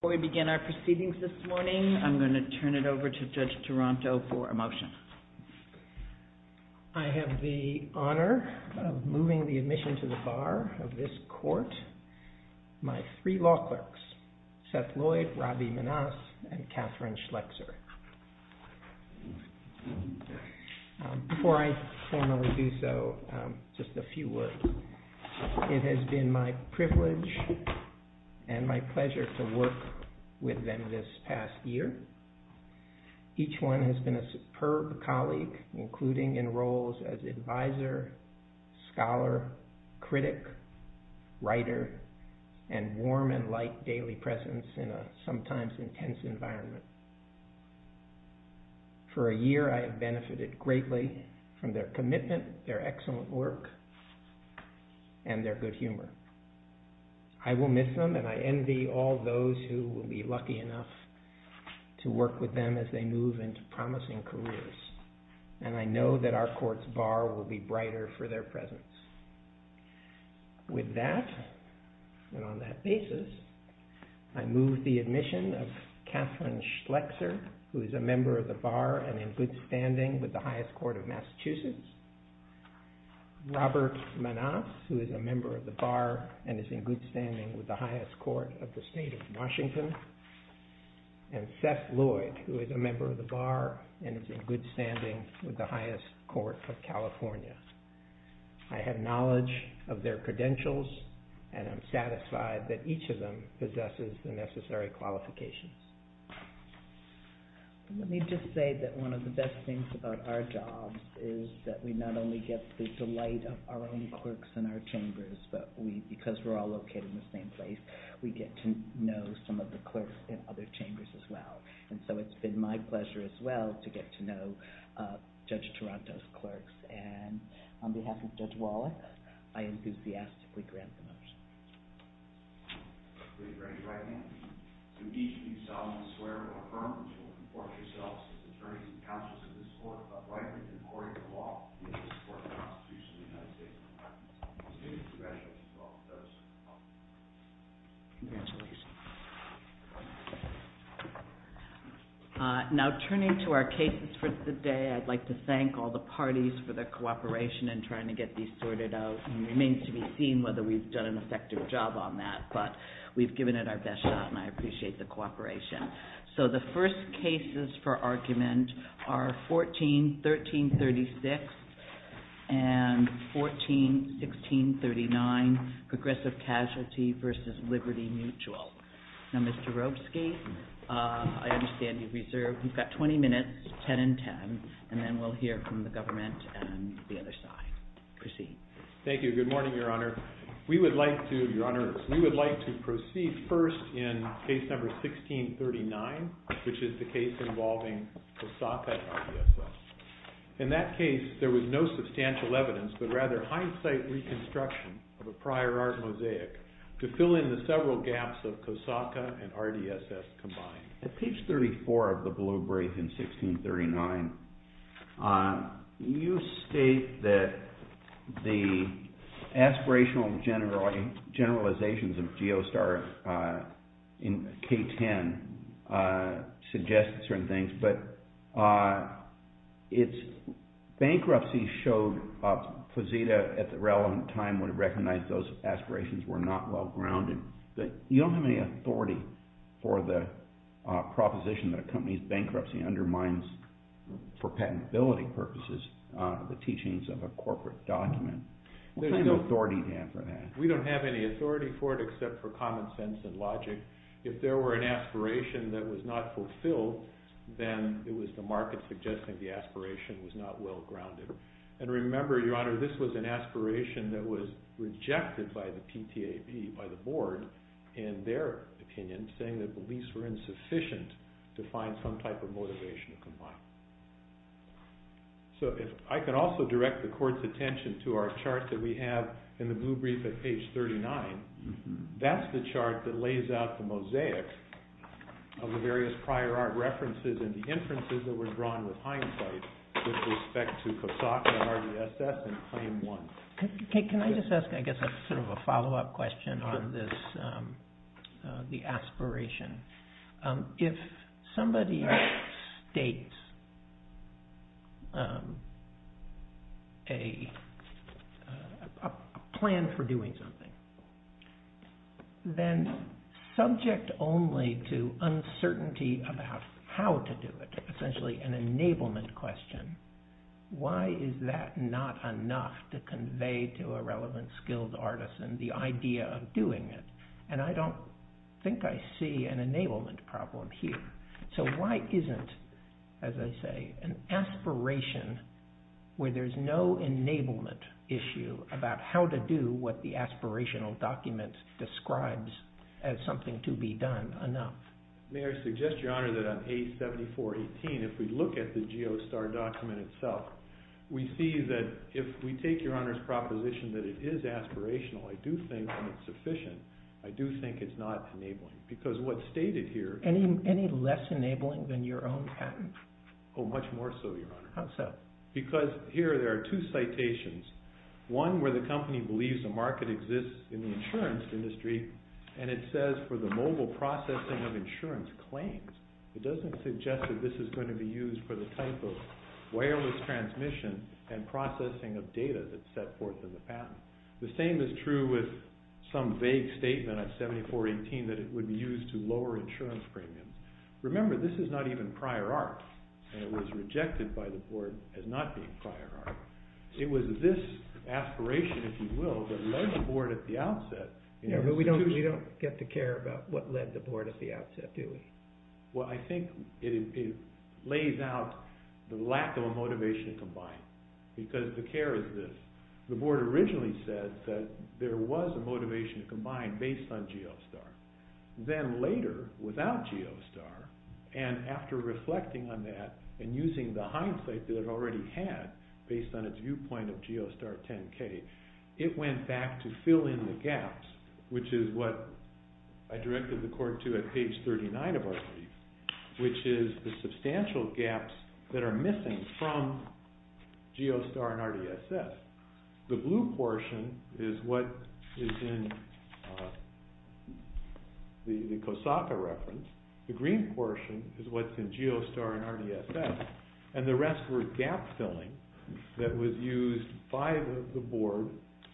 Before we begin our proceedings this morning, I'm going to turn it over to Judge Taranto for a motion. I have the honor of moving the admission to the bar of this court. My three law clerks, Seth Lloyd, Robbie Manasse, and Catherine Schlechzer. Before I formally do so, just a few words. It has been my privilege and my pleasure to work with them this past year. Each one has been a superb colleague, including in roles as advisor, scholar, critic, writer, and warm and light daily presence in a sometimes intense environment. For a year, I have benefited greatly from their commitment, their excellent work, and their good humor. I will miss them, and I envy all those who will be lucky enough to work with them as they move into promising careers. And I know that our court's bar will be brighter for their presence. With that, and on that basis, I move the admission of Catherine Schlechzer, who is a member of the bar and in good standing with the highest court of Massachusetts. Robert Manasse, who is a member of the bar and is in good standing with the highest court of the state of Washington. And Seth Lloyd, who is a member of the bar and is in good standing with the highest court of California. I have knowledge of their credentials, and I'm satisfied that each of them possesses the necessary qualifications. Let me just say that one of the best things about our jobs is that we not only get the delight of our own clerks in our chambers, but because we're all located in the same place, we get to know some of the clerks in other chambers as well. And so it's been my pleasure as well to get to know Judge Taranto's clerks. And on behalf of Judge Wallach, I enthusiastically grant the motion. Congratulations. Now turning to our cases for today, I'd like to thank all the parties for their cooperation in trying to get these sorted out. It remains to be seen whether we've done an effective job on that, but we've given it our best shot, and I appreciate the cooperation. So the first cases for argument are 14-1336 and 14-1639, progressive casualty versus liberty mutual. Now, Mr. Robesky, I understand you've reserved. We've got 20 minutes, 10 and 10, and then we'll hear from the government and the other side. Proceed. Thank you. Good morning, Your Honor. We would like to proceed first in case number 16-39, which is the case involving the Soffit IDSS. In that case, there was no substantial evidence, but rather hindsight reconstruction of a prior art mosaic to fill in the several gaps of Kosaka and RDSS combined. At page 34 of the blue brief in 16-39, you state that the aspirational generalizations of Geostar in K-10 suggest certain things, but bankruptcy showed Fazita at the relevant time would recognize those aspirations were not well-grounded. You don't have any authority for the proposition that accompanies bankruptcy undermines, for patentability purposes, the teachings of a corporate document. What kind of authority do you have for that? We don't have any authority for it except for common sense and logic. If there were an aspiration that was not fulfilled, then it was the market suggesting the aspiration was not well-grounded. And remember, Your Honor, this was an aspiration that was rejected by the PTAB, by the board, in their opinion, saying that beliefs were insufficient to find some type of motivation to comply. I can also direct the Court's attention to our chart that we have in the blue brief at page 39. That's the chart that lays out the mosaics of the various prior art references and the inferences that were drawn with hindsight with respect to Kosaka and RDSS in Claim 1. Can I just ask a follow-up question on the aspiration? If somebody states a plan for doing something, then subject only to uncertainty about how to do it, essentially an enablement question, why is that not enough to convey to a relevant, skilled artisan the idea of doing it? And I don't think I see an enablement problem here. So why isn't, as I say, an aspiration where there's no enablement issue about how to do what the aspirational document describes as something to be done enough? May I suggest, Your Honor, that on page 7418, if we look at the GeoSTAR document itself, we see that if we take Your Honor's proposition that it is aspirational, I do think that it's sufficient. I do think it's not enabling. Any less enabling than your own patent? Oh, much more so, Your Honor. How so? Because here there are two citations, one where the company believes the market exists in the insurance industry, and it says for the mobile processing of insurance claims. It doesn't suggest that this is going to be used for the type of wireless transmission and processing of data that's set forth in the patent. The same is true with some vague statement on 7418 that it would be used to lower insurance premiums. Remember, this is not even prior art, and it was rejected by the board as not being prior art. It was this aspiration, if you will, that led the board at the outset. We don't get to care about what led the board at the outset, do we? Well, I think it lays out the lack of a motivation to combine, because the care is this. The board originally said that there was a motivation to combine based on GeoSTAR. Then later, without GeoSTAR, and after reflecting on that and using the hindsight that it already had based on its viewpoint of GeoSTAR 10-K, it went back to fill in the gaps, which is what I directed the court to at page 39 of our brief, which is the substantial gaps that are missing from GeoSTAR and RDSS. The blue portion is what is in the Kosaka reference. The green portion is what's in GeoSTAR and RDSS, and the rest were gap filling that was used by the board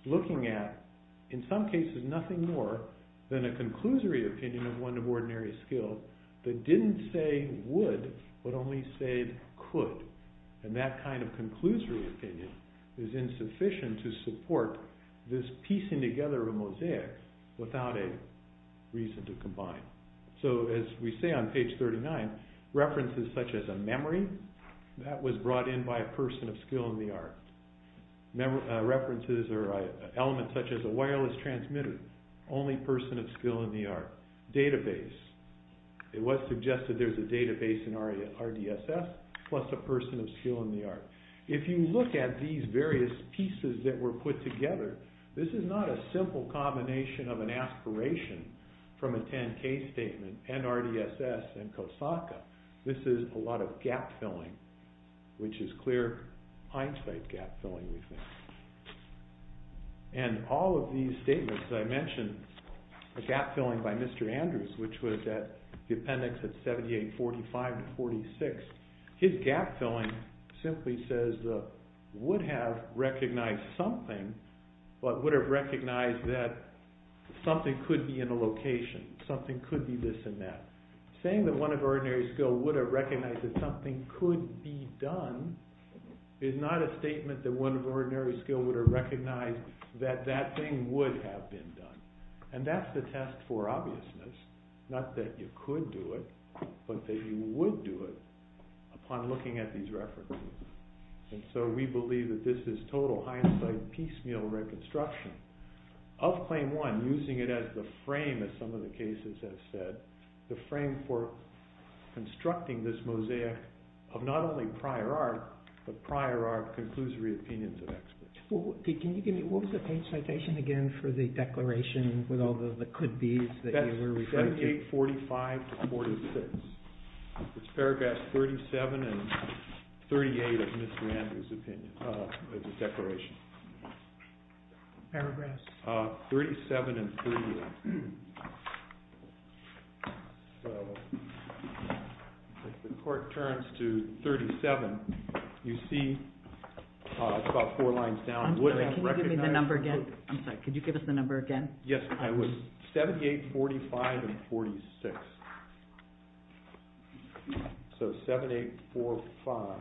looking at, in some cases, nothing more than a conclusory opinion of one of ordinary skills that didn't say would, but only said could. That kind of conclusory opinion is insufficient to support this piecing together of mosaics without a reason to combine. As we say on page 39, references such as a memory, that was brought in by a person of skill in the art. References or elements such as a wireless transmitter, only person of skill in the art. It was suggested there's a database in RDSS plus a person of skill in the art. If you look at these various pieces that were put together, this is not a simple combination of an aspiration from a 10-K statement and RDSS and Kosaka. This is a lot of gap filling, which is clear hindsight gap filling, we think. And all of these statements that I mentioned, the gap filling by Mr. Andrews, which was at the appendix at 7845-46. His gap filling simply says the would have recognized something, but would have recognized that something could be in a location, something could be this and that. Saying that one of ordinary skill would have recognized that something could be done is not a statement that one of ordinary skill would have recognized that that thing would have been done. And that's the test for obviousness, not that you could do it, but that you would do it upon looking at these references. And so we believe that this is total hindsight piecemeal reconstruction of claim one, using it as the frame, as some of the cases have said. The frame for constructing this mosaic of not only prior art, but prior art, conclusory opinions of experts. Can you give me, what was the page citation again for the declaration with all the could be's that you were referring to? 7845-46. It's paragraphs 37 and 38 of Mr. Andrews' opinion, of the declaration. Paragraphs? 37 and 38. So, if the court turns to 37, you see it's about four lines down. I'm sorry, can you give me the number again? I'm sorry, could you give us the number again? Yes, I would. 7845 and 46. So, 7845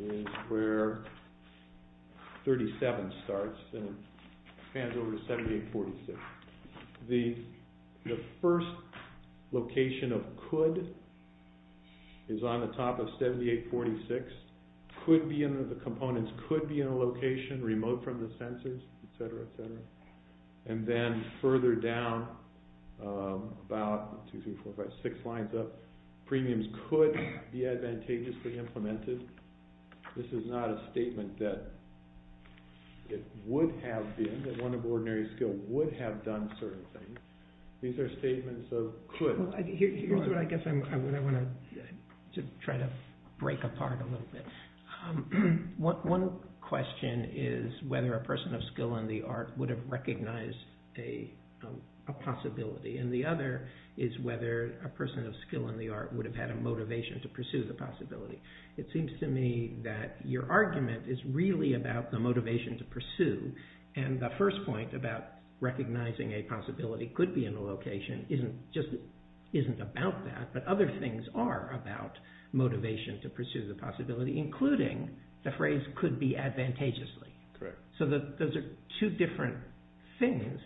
is where 37 starts and expands over to 7846. The first location of could is on the top of 7846. Could be in the components, could be in a location remote from the censors, etc., etc. And then further down, about two, three, four, five, six lines up, premiums could be advantageously implemented. This is not a statement that it would have been, that one of ordinary skill would have done certain things. These are statements of could. Here's what I guess I want to try to break apart a little bit. One question is whether a person of skill in the art would have recognized a possibility, and the other is whether a person of skill in the art would have had a motivation to pursue the possibility. It seems to me that your argument is really about the motivation to pursue, and the first point about recognizing a possibility could be in a location isn't about that, but other things are about motivation to pursue the possibility, including the phrase could be advantageously. So those are two different things.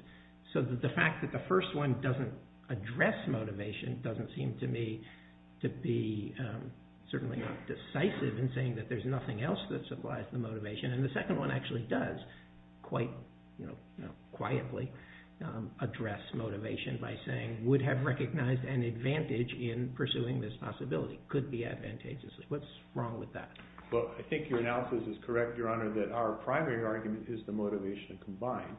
So the fact that the first one doesn't address motivation doesn't seem to me to be certainly not decisive in saying that there's nothing else that supplies the motivation, and the second one actually does quite quietly address motivation by saying would have recognized an advantage in pursuing this possibility. Could be advantageously. What's wrong with that? Well, I think your analysis is correct, Your Honor, that our primary argument is the motivation combined.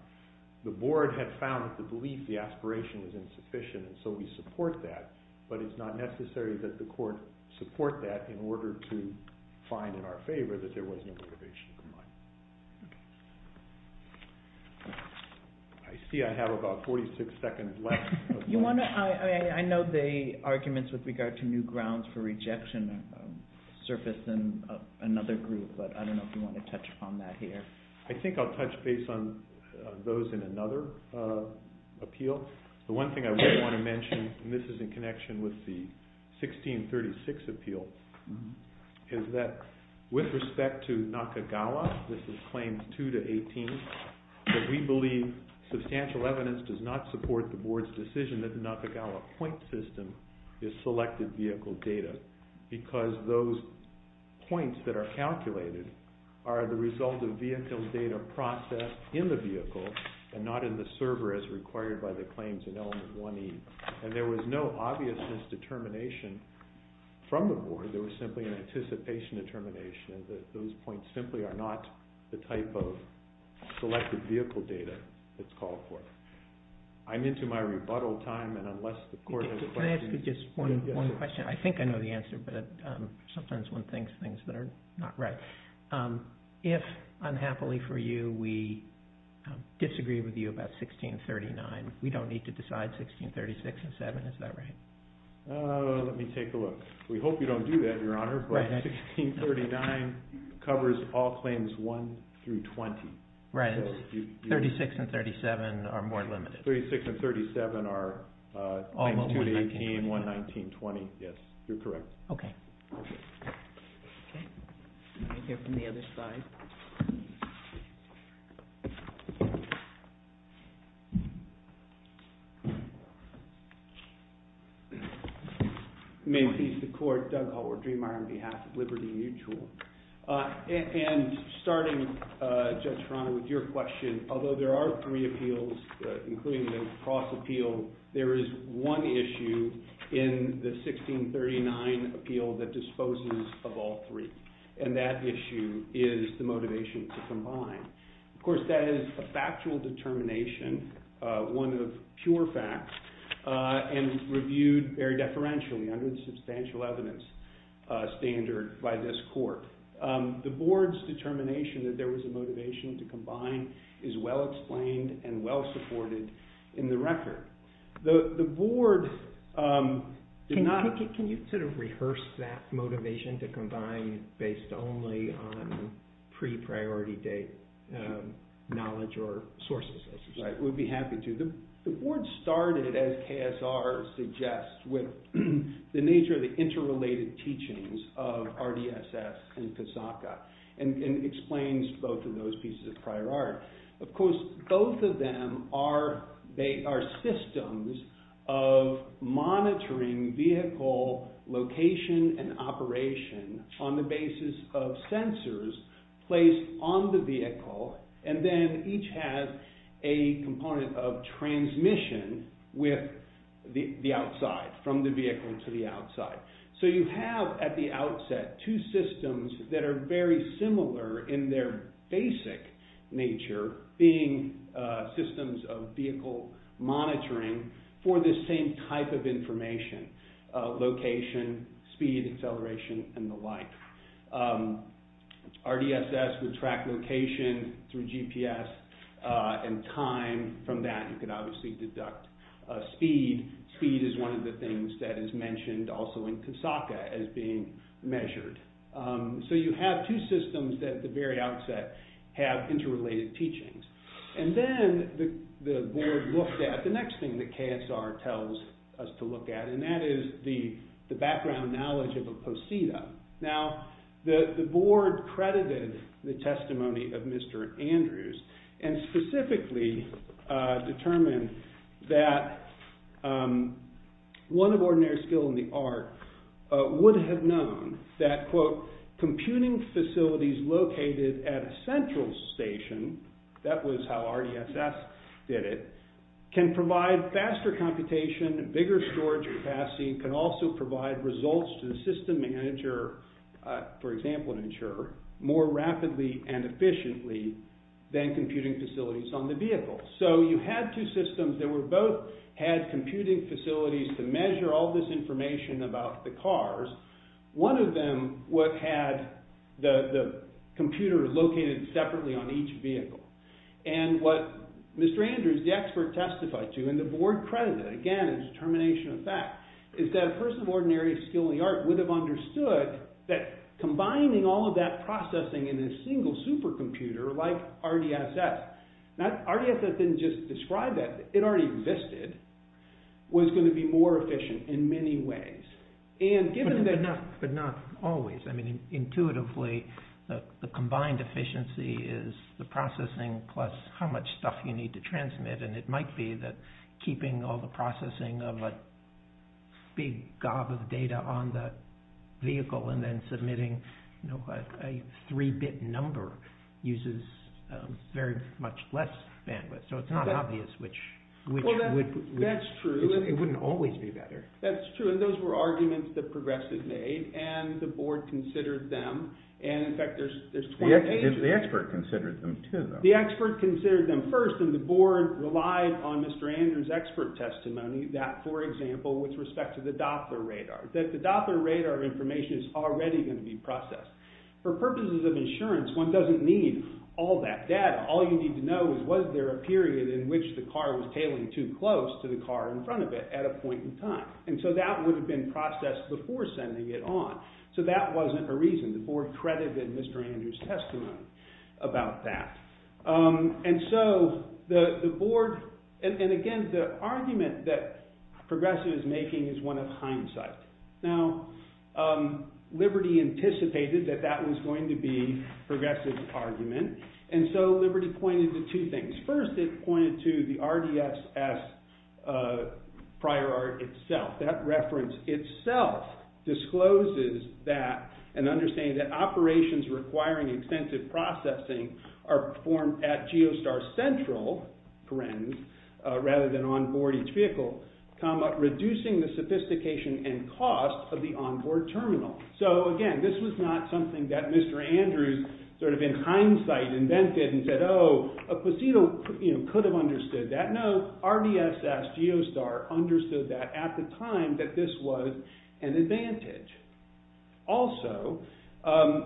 The board had found that the belief, the aspiration was insufficient, and so we support that, but it's not necessary that the court support that in order to find in our favor that there was no motivation combined. I see I have about 46 seconds left. I know the arguments with regard to new grounds for rejection surfaced in another group, but I don't know if you want to touch upon that here. I think I'll touch base on those in another appeal. The one thing I do want to mention, and this is in connection with the 1636 appeal, is that with respect to Nakagawa, this is claims 2 to 18, that we believe substantial evidence does not support the board's decision that the Nakagawa point system is selected vehicle data because those points that are calculated are the result of vehicle data processed in the vehicle and not in the server as required by the claims in element 1E, and there was no obviousness determination from the board. There was simply an anticipation determination that those points simply are not the type of selected vehicle data that's called for. I'm into my rebuttal time, and unless the court has questions. Can I ask you just one question? I think I know the answer, but sometimes one thinks things that are not right. If, unhappily for you, we disagree with you about 1639, we don't need to decide 1636 and 7, is that right? Let me take a look. We hope you don't do that, Your Honor, but 1639 covers all claims 1 through 20. Right, 36 and 37 are more limited. 36 and 37 are claims 2 to 18, 1, 19, 20. Okay. Okay. Right here from the other side. May it please the court, Doug Hallward-Driemeier on behalf of Liberty Mutual. And starting, Judge Toronto, with your question, although there are three appeals, including the cross appeal, there is one issue in the 1639 appeal that disposes of all three, and that issue is the motivation to combine. Of course, that is a factual determination, one of pure facts, and reviewed very deferentially under the substantial evidence standard by this court. The board's determination that there was a motivation to combine is well-explained and well-supported in the record. The board did not... Can you sort of rehearse that motivation to combine based only on pre-priority date knowledge or sources? I would be happy to. The board started, as KSR suggests, with the nature of the interrelated teachings of RDSS and CASACA, and explains both of those pieces of prior art. Of course, both of them are systems of monitoring vehicle location and operation on the basis of sensors placed on the vehicle, and then each has a component of transmission with the outside, from the vehicle to the outside. So you have, at the outset, two systems that are very similar in their basic nature, being systems of vehicle monitoring for this same type of information, location, speed, acceleration, and the like. RDSS would track location through GPS and time. From that, you could obviously deduct speed. Speed is one of the things that is mentioned also in CASACA as being measured. So you have two systems that, at the very outset, have interrelated teachings. And then the board looked at the next thing that KSR tells us to look at, and that is the background knowledge of a poseda. Now, the board credited the testimony of Mr. Andrews, and specifically determined that one of ordinary skill in the art would have known that, quote, computing facilities located at a central station, that was how RDSS did it, can provide faster computation, bigger storage capacity, can also provide results to the system manager, for example an insurer, more rapidly and efficiently than computing facilities on the vehicle. So you had two systems that both had computing facilities to measure all this information about the cars. One of them had the computer located separately on each vehicle. And what Mr. Andrews, the expert, testified to, and the board credited, again, as a determination of fact, is that a person of ordinary skill in the art would have understood that combining all of that processing in a single supercomputer like RDSS, RDSS didn't just describe that, it already existed, was going to be more efficient in many ways. But not always. Intuitively, the combined efficiency is the processing plus how much stuff you need to transmit, and it might be that keeping all the processing of a big gob of data on the vehicle and then submitting a 3-bit number uses very much less bandwidth. So it's not obvious which would... That's true. It wouldn't always be better. That's true, and those were arguments that Progressive made, and the board considered them, and in fact there's 28 of them. The expert considered them too, though. The expert considered them first, and the board relied on Mr. Andrews' expert testimony, that, for example, with respect to the Doppler radar, that the Doppler radar information is already going to be processed. For purposes of insurance, one doesn't need all that data. All you need to know is was there a period in which the car was tailing too close to the car in front of it at a point in time, and so that would have been processed before sending it on. So that wasn't a reason. The board credited Mr. Andrews' testimony about that. And so the board... And again, the argument that Progressive is making is one of hindsight. Now, Liberty anticipated that that was going to be Progressive's argument, and so Liberty pointed to two things. First, it pointed to the RDSS prior art itself. That reference itself discloses that, an understanding that operations requiring extensive processing are performed at Geostar Central, rather than onboard each vehicle, reducing the sophistication and cost of the onboard terminal. So, again, this was not something that Mr. Andrews, sort of in hindsight, invented and said, oh, a Posito could have understood that. No, RDSS, Geostar, understood that at the time that this was an advantage. Also,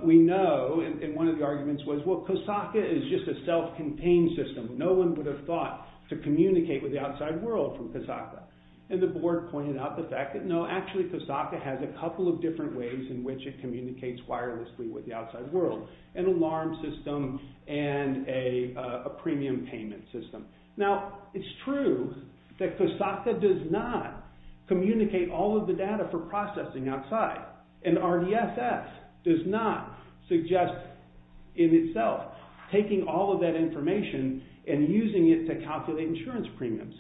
we know, and one of the arguments was, well, Kosaka is just a self-contained system. No one would have thought to communicate with the outside world from Kosaka. And the board pointed out the fact that, no, actually Kosaka has a couple of different ways in which it communicates wirelessly with the outside world, an alarm system and a premium payment system. Now, it's true that Kosaka does not communicate all of the data for itself, taking all of that information and using it to calculate insurance premiums.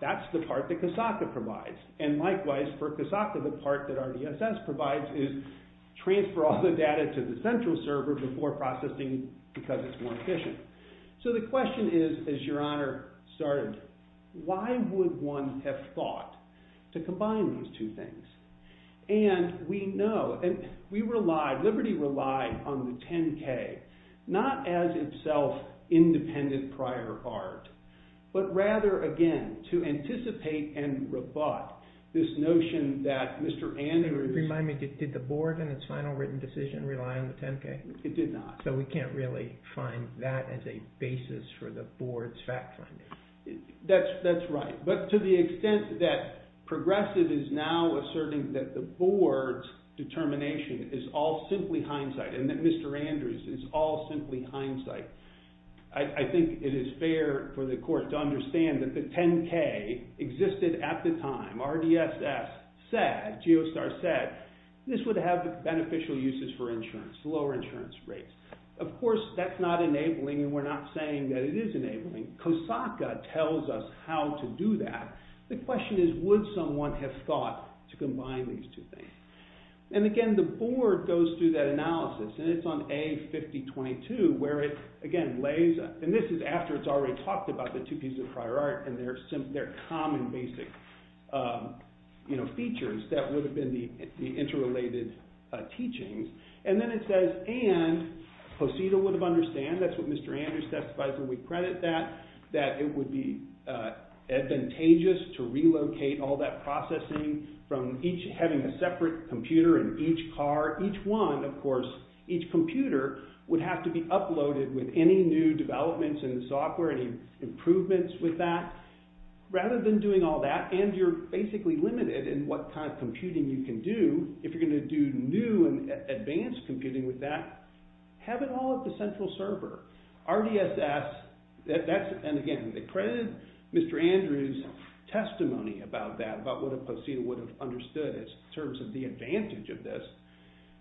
That's the part that Kosaka provides. And likewise, for Kosaka, the part that RDSS provides is transfer all the data to the central server before processing, because it's more efficient. So the question is, as Your Honor started, why would one have thought to combine these two things? And we know, and we relied, Liberty relied on the 10K, not as itself independent prior art, but rather, again, to anticipate and rebut this notion that Mr. Andrews. Remind me, did the board in its final written decision rely on the 10K? It did not. So we can't really find that as a basis for the board's fact finding. That's right. But to the extent that Progressive is now asserting that the board's simply hindsight and that Mr. Andrews is all simply hindsight, I think it is fair for the court to understand that the 10K existed at the time. RDSS said, Geostar said, this would have beneficial uses for insurance, lower insurance rates. Of course, that's not enabling, and we're not saying that it is enabling. Kosaka tells us how to do that. The question is, would someone have thought to combine these two things? And again, the board goes through that analysis, and it's on A5022, where it again lays, and this is after it's already talked about the two pieces of prior art and their common basic features that would have been the interrelated teachings. And then it says, and Posita would have understood, that's what Mr. Andrews testifies when we credit that, that it would be advantageous to relocate all that processing from each having a separate computer in each car, each one, of course, each computer would have to be uploaded with any new developments in the software, any improvements with that. Rather than doing all that, and you're basically limited in what kind of computing you can do, if you're going to do new and advanced computing with that, have it all at the central server. RDSS, and again, they credited Mr. Andrews' testimony about that, about what Posita would have understood in terms of the advantage of this,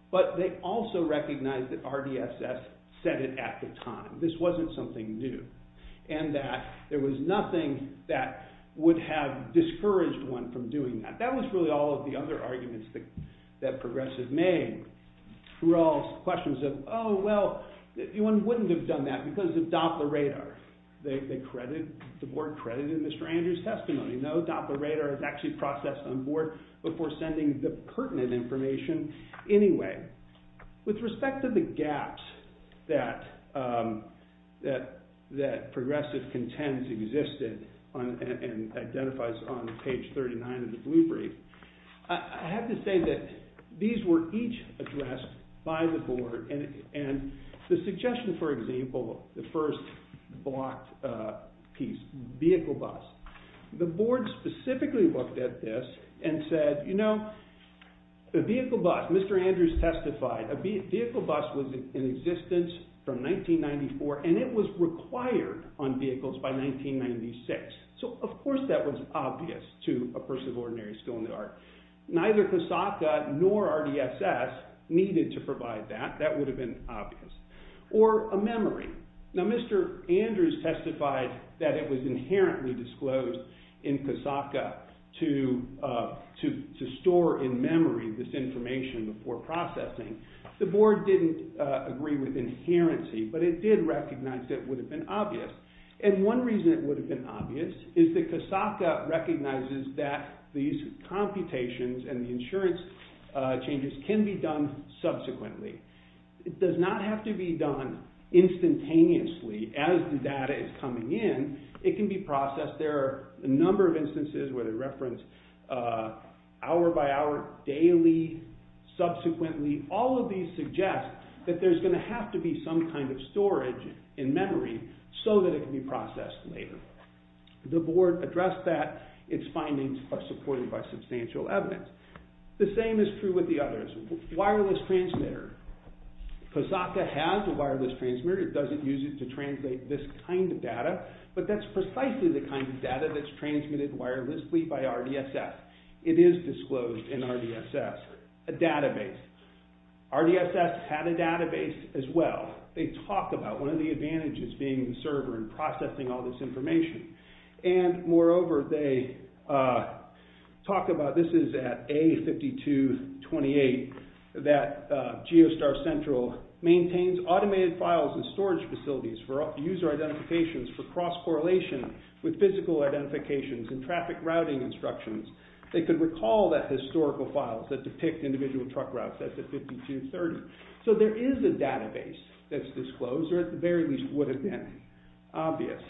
but they also recognized that RDSS said it at the time. This wasn't something new, and that there was nothing that would have discouraged one from doing that. That was really all of the other arguments that Progressive made, were all questions of, oh, well, one wouldn't have done that because of Doppler Radar. The board credited Mr. Andrews' testimony. We know Doppler Radar is actually processed on board before sending the pertinent information anyway. With respect to the gaps that Progressive contends existed and identifies on page 39 of the blue brief, I have to say that these were each addressed by the board, and the suggestion, for example, the first blocked piece, vehicle bus, the board specifically looked at this and said, you know, a vehicle bus, Mr. Andrews testified, a vehicle bus was in existence from 1994, and it was required on vehicles by 1996. So, of course, that was obvious to a person of ordinary skill in the art. Neither CASACA nor RDSS needed to provide that. That would have been obvious. Or a memory. Now, Mr. Andrews testified that it was inherently disclosed in CASACA to store in memory this information before processing. The board didn't agree with inherency, but it did recognize that it would have been obvious. And one reason it would have been obvious is that CASACA recognizes that these computations and the insurance changes can be done subsequently. It does not have to be done instantaneously. As the data is coming in, it can be processed. There are a number of instances where they reference hour by hour, daily, subsequently. All of these suggest that there's going to have to be some kind of storage in memory so that it can be processed later. The board addressed that. Its findings are supported by substantial evidence. The same is true with the others. Wireless transmitter. CASACA has a wireless transmitter. It doesn't use it to translate this kind of data, but that's precisely the kind of data that's transmitted wirelessly by RDSS. It is disclosed in RDSS. A database. RDSS had a database as well. They talked about one of the advantages being the server and processing all this information. Moreover, this is at A5228, that Geostar Central maintains automated files in storage facilities for user identifications for cross-correlation with physical identifications and traffic routing instructions. They could recall that historical files that depict individual truck routes. That's at 5230. There is a database that's disclosed, or at the very least would have been. Obvious.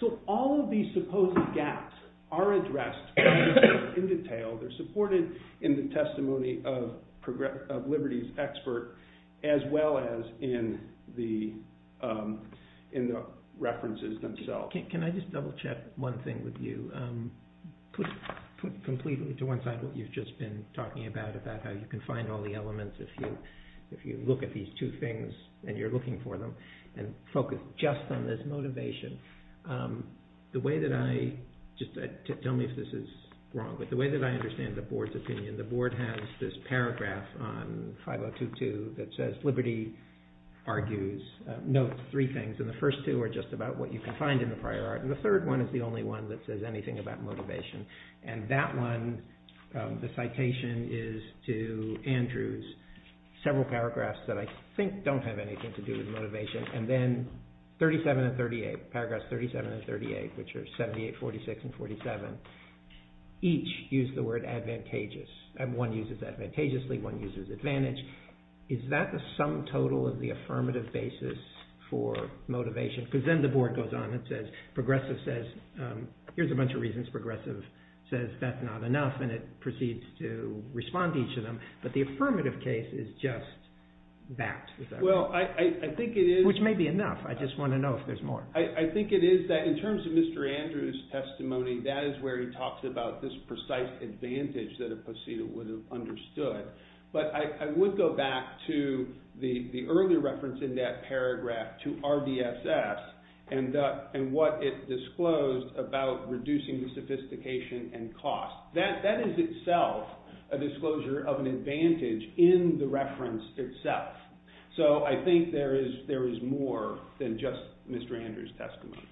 So all of these supposed gaps are addressed in detail. They're supported in the testimony of Liberty's expert, as well as in the references themselves. Can I just double-check one thing with you? Put completely to one side what you've just been talking about, about how you can find all the elements if you look at these two things and you're looking for them. And focus just on this motivation. The way that I, just tell me if this is wrong, but the way that I understand the Board's opinion, the Board has this paragraph on 5022 that says, Liberty argues, notes three things, and the first two are just about what you can find in the prior art, and the third one is the only one that says anything about motivation. And that one, the citation is to Andrew's several paragraphs that I think don't have anything to do with motivation, and then 37 and 38, paragraphs 37 and 38, which are 78, 46, and 47, each use the word advantageous. One uses advantageously, one uses advantage. Is that the sum total of the affirmative basis for motivation? Because then the Board goes on and says, Progressive says, here's a bunch of reasons Progressive says that's not enough, and it proceeds to respond to each of them, but the affirmative case is just that. Which may be enough, I just want to know if there's more. I think it is that in terms of Mr. Andrew's testimony, that is where he talks about this precise advantage that a procedure would have understood. But I would go back to the earlier reference in that paragraph to RDSS, and what it disclosed about reducing the sophistication and cost. That is itself a disclosure of an advantage in the reference itself. So I think there is more than just Mr. Andrew's testimony.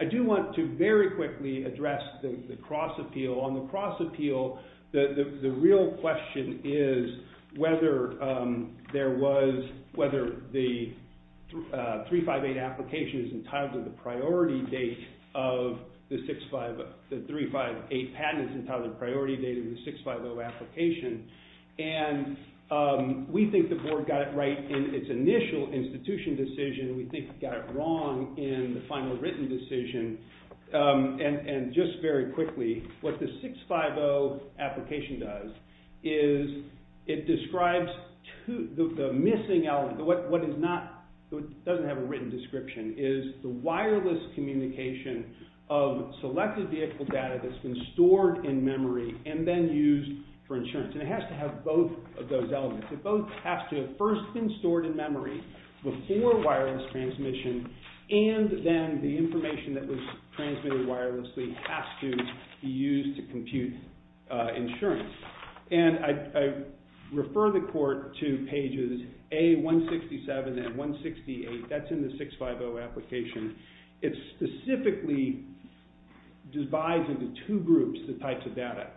I do want to very quickly address the cross-appeal. On the cross-appeal, the real question is whether there was, whether the 358 application is entitled to the priority date of the 358 patent is entitled to the priority date of the 650 application. And we think the Board got it right in its initial institution decision. We think it got it wrong in the final written decision. And just very quickly, what the 650 application does is it describes, the missing element, what is not, doesn't have a written description, is the wireless communication of selected vehicle data that's been stored in memory and then used for insurance. And it has to have both of those elements. It both has to have first been stored in memory before wireless transmission, and then the information that was transmitted wirelessly has to be used to compute insurance. And I refer the Court to pages A167 and 168. That's in the 650 application. It specifically divides into two groups the types of data.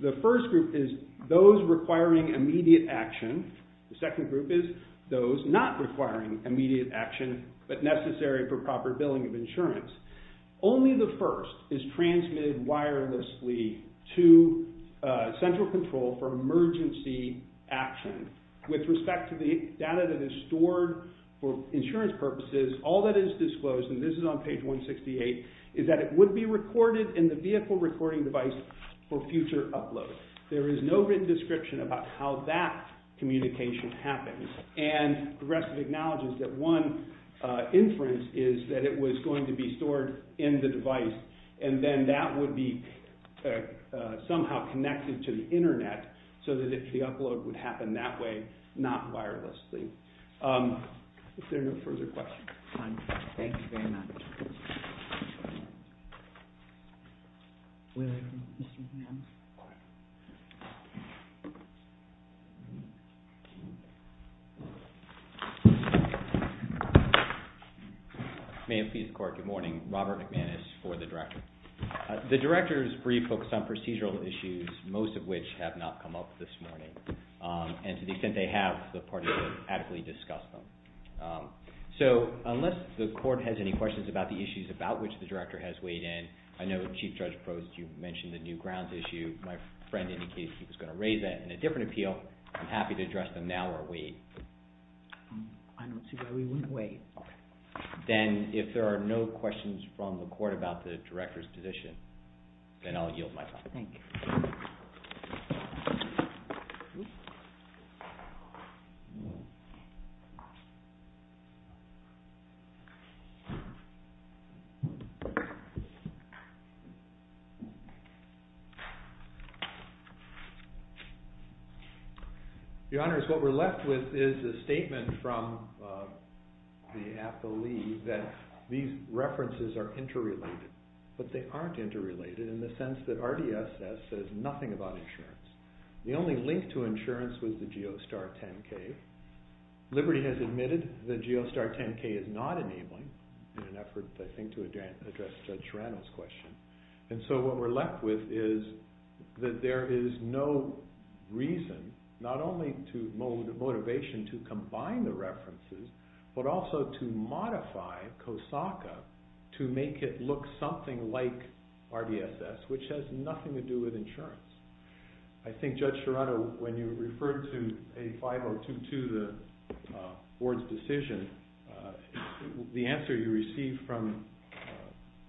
The first group is those requiring immediate action. The second group is those not requiring immediate action but necessary for proper billing of insurance. Only the first is transmitted wirelessly to central control for emergency action. With respect to the data that is stored for insurance purposes, all that is disclosed, and this is on page 168, is that it would be recorded in the vehicle recording device for future upload. There is no written description about how that communication happens. And the rest of it acknowledges that one inference is that it was going to be stored in the device, and then that would be somehow connected to the Internet so that the upload would happen that way, not wirelessly. Is there no further questions? Fine. Thank you very much. Good morning. Robert McManus for the Director. The Director's brief focused on procedural issues, most of which have not come up this morning, and to the extent they have, the parties will adequately discuss them. So unless the Court has any questions about the issues about which the Director has weighed in, I know Chief Judge Probst, you mentioned the new grounds issue. My friend indicated he was going to raise that in a different appeal. I'm happy to address them now or wait. I don't see why we wouldn't wait. Then if there are no questions from the Court about the Director's position, then I'll yield my time. Thank you. Oops. Your Honors, what we're left with is a statement from the athlete that these references are interrelated, but they aren't interrelated in the sense that RDSS says nothing about insurance. The only link to insurance was the GeoStar 10K. Liberty has admitted the GeoStar 10K is not enabling, in an effort, I think, to address Judge Serrano's question. And so what we're left with is that there is no reason, not only motivation to combine the references, but also to modify COSACA to make it look something like RDSS, which has nothing to do with insurance. I think Judge Serrano, when you referred to A5022, the Board's decision, the answer you received from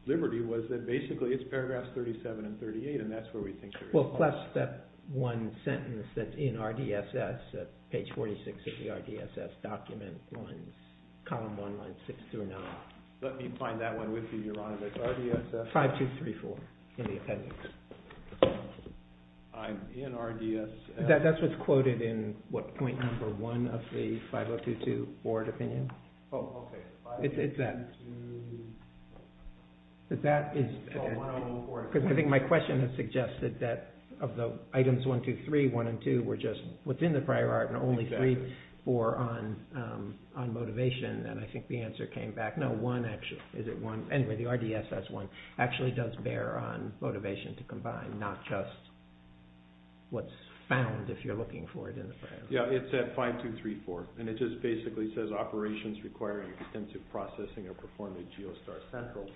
Liberty was that basically it's paragraphs 37 and 38, and that's where we think there is a problem. Well, plus that one sentence that's in RDSS, that page 46 of the RDSS document, lines column 1, lines 6 through 9. Let me find that one with you, Your Honors. It's RDSS? 5234, in the appendix. I'm in RDSS. That's what's quoted in, what, point number 1 of the 5022 Board opinion. Oh, okay. It's that. I think my question has suggested that of the items 1, 2, 3, 1, and 2 were just within the prior art and only 3 or on motivation, and I think the answer came back, no, 1 actually. Is it 1? Anyway, the RDSS 1 actually does bear on motivation to combine, not just what's found if you're looking for it in the prior art. Yeah, it's at 5234, and it just basically says, operations requiring extensive processing are performed at Geostar Central,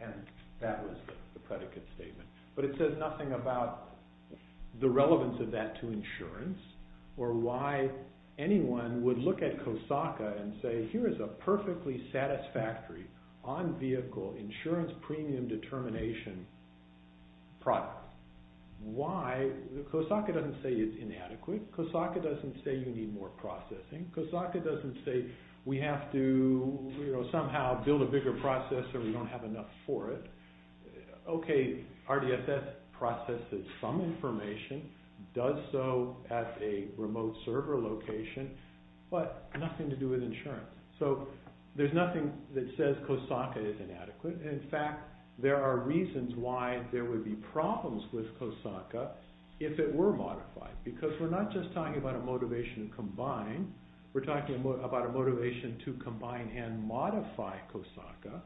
and that was the predicate statement. But it says nothing about the relevance of that to insurance or why anyone would look at COSACA and say, here is a perfectly satisfactory on-vehicle insurance premium determination product. Why? COSACA doesn't say it's inadequate. COSACA doesn't say you need more processing. COSACA doesn't say we have to somehow build a bigger process or we don't have enough for it. Okay, RDSS processes some information, does so at a remote server location, but nothing to do with insurance. So there's nothing that says COSACA is inadequate. In fact, there are reasons why there would be problems with COSACA if it were modified, because we're not just talking about a motivation to combine. We're talking about a motivation to combine and modify COSACA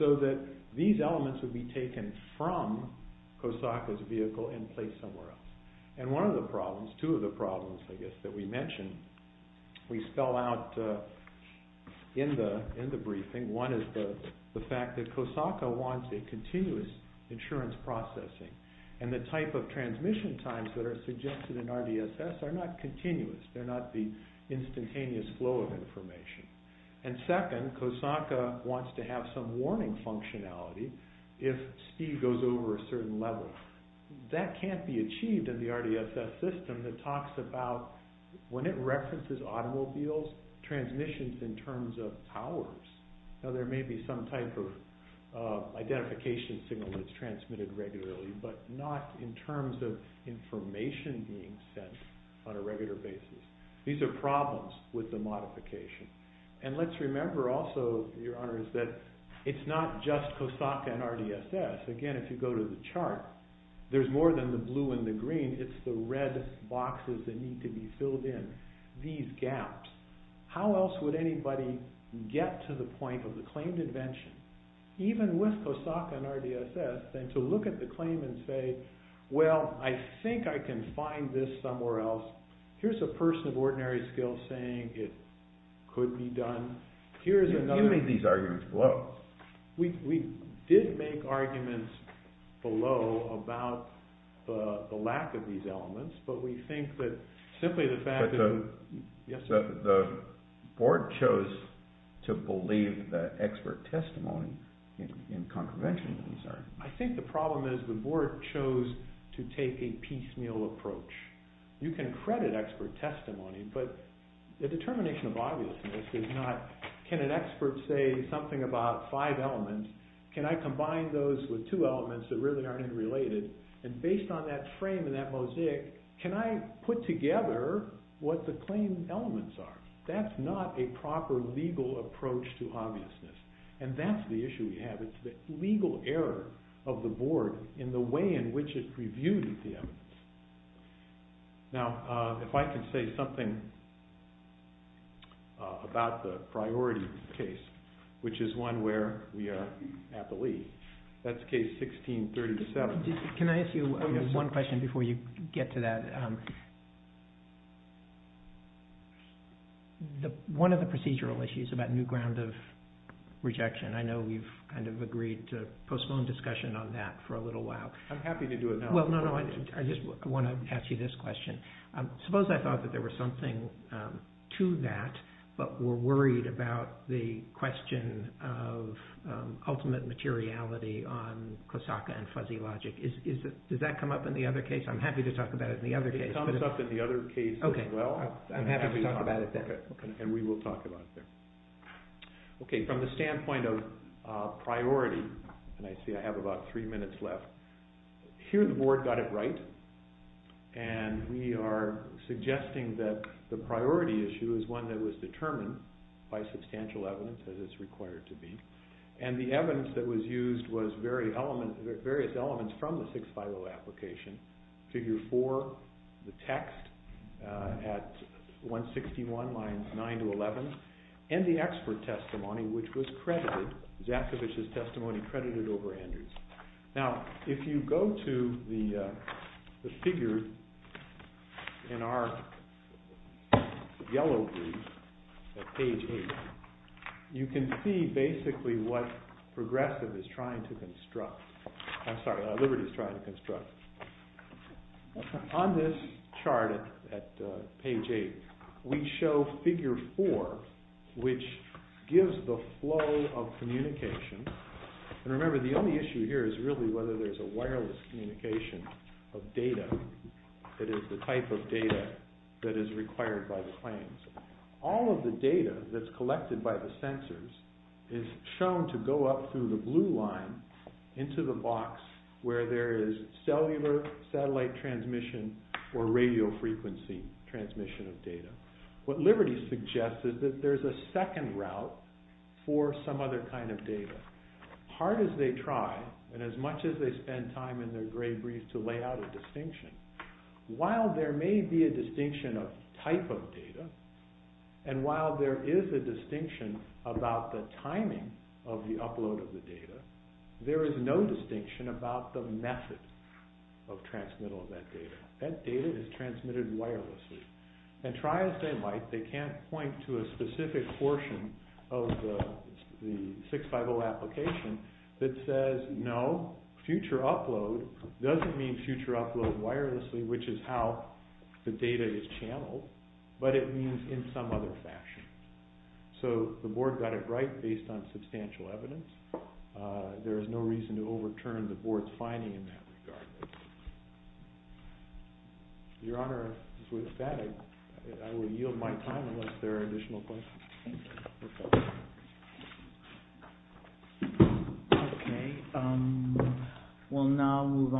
so that these elements would be taken from COSACA's vehicle and placed somewhere else. And one of the problems, two of the problems, I guess, that we mentioned, we spell out in the briefing, one is the fact that COSACA wants a continuous insurance processing and the type of transmission times that are suggested in RDSS are not continuous. They're not the instantaneous flow of information. And second, COSACA wants to have some warning functionality if speed goes over a certain level. That can't be achieved in the RDSS system that talks about, when it references automobiles, transmissions in terms of powers. Now, there may be some type of identification signal that's transmitted regularly, but not in terms of information being sent on a regular basis. These are problems with the modification. And let's remember also, Your Honors, that it's not just COSACA and RDSS. Again, if you go to the chart, there's more than the blue and the green. It's the red boxes that need to be filled in, these gaps. How else would anybody get to the point of the claimed invention, even with COSACA and RDSS, to look at the claim and say, well, I think I can find this somewhere else. Here's a person of ordinary skill saying it could be done. You made these arguments below. We did make arguments below about the lack of these elements, but we think that simply the fact that the board chose to believe the expert testimony in contravention of these are. I think the problem is the board chose to take a piecemeal approach. You can credit expert testimony, but the determination of obviousness is not, can an expert say something about five elements? Can I combine those with two elements that really aren't interrelated? And based on that frame and that mosaic, can I put together what the claimed elements are? That's not a proper legal approach to obviousness, and that's the issue we have. It's the legal error of the board in the way in which it reviewed the evidence. Now, if I can say something about the priority case, which is one where we are at the lead, that's case 1637. Can I ask you one question before you get to that? One of the procedural issues about new ground of rejection, I know we've kind of agreed to postpone discussion on that for a little while. I'm happy to do it now. Well, no, no, I just want to ask you this question. Suppose I thought that there was something to that, but were worried about the question of ultimate materiality on Kosaka and fuzzy logic. Does that come up in the other case? I'm happy to talk about it in the other case. It comes up in the other case as well. Okay, I'm happy to talk about it then. And we will talk about it there. Okay, from the standpoint of priority, and I see I have about three minutes left, here the board got it right, and we are suggesting that the priority issue is one that was determined by substantial evidence, as it's required to be. And the evidence that was used was various elements from the 650 application, figure 4, the text at 161 lines 9 to 11, and the expert testimony, which was credited, Zaskevich's testimony credited over Andrews. Now, if you go to the figure in our yellow brief at page 8, you can see basically what Progressive is trying to construct. I'm sorry, Liberty is trying to construct. On this chart at page 8, we show figure 4, which gives the flow of communication. And remember, the only issue here is really whether there's a wireless communication of data that is the type of data that is required by the claims. All of the data that's collected by the sensors is shown to go up through the blue line into the box where there is cellular satellite transmission or radio frequency transmission of data. What Liberty suggests is that there's a second route for some other kind of data. Hard as they try, and as much as they spend time in their gray brief to lay out a distinction, while there may be a distinction of type of data, and while there is a distinction about the timing of the upload of the data, there is no distinction about the method of transmittal of that data. That data is transmitted wirelessly. And try as they might, they can't point to a specific portion of the 650 application that says, no, future upload doesn't mean future upload wirelessly, which is how the data is channeled, but it means in some other fashion. So the board got it right based on substantial evidence. There is no reason to overturn the board's finding in that regard. Your Honor, with that, I will yield my time unless there are additional questions. Thank you. Okay.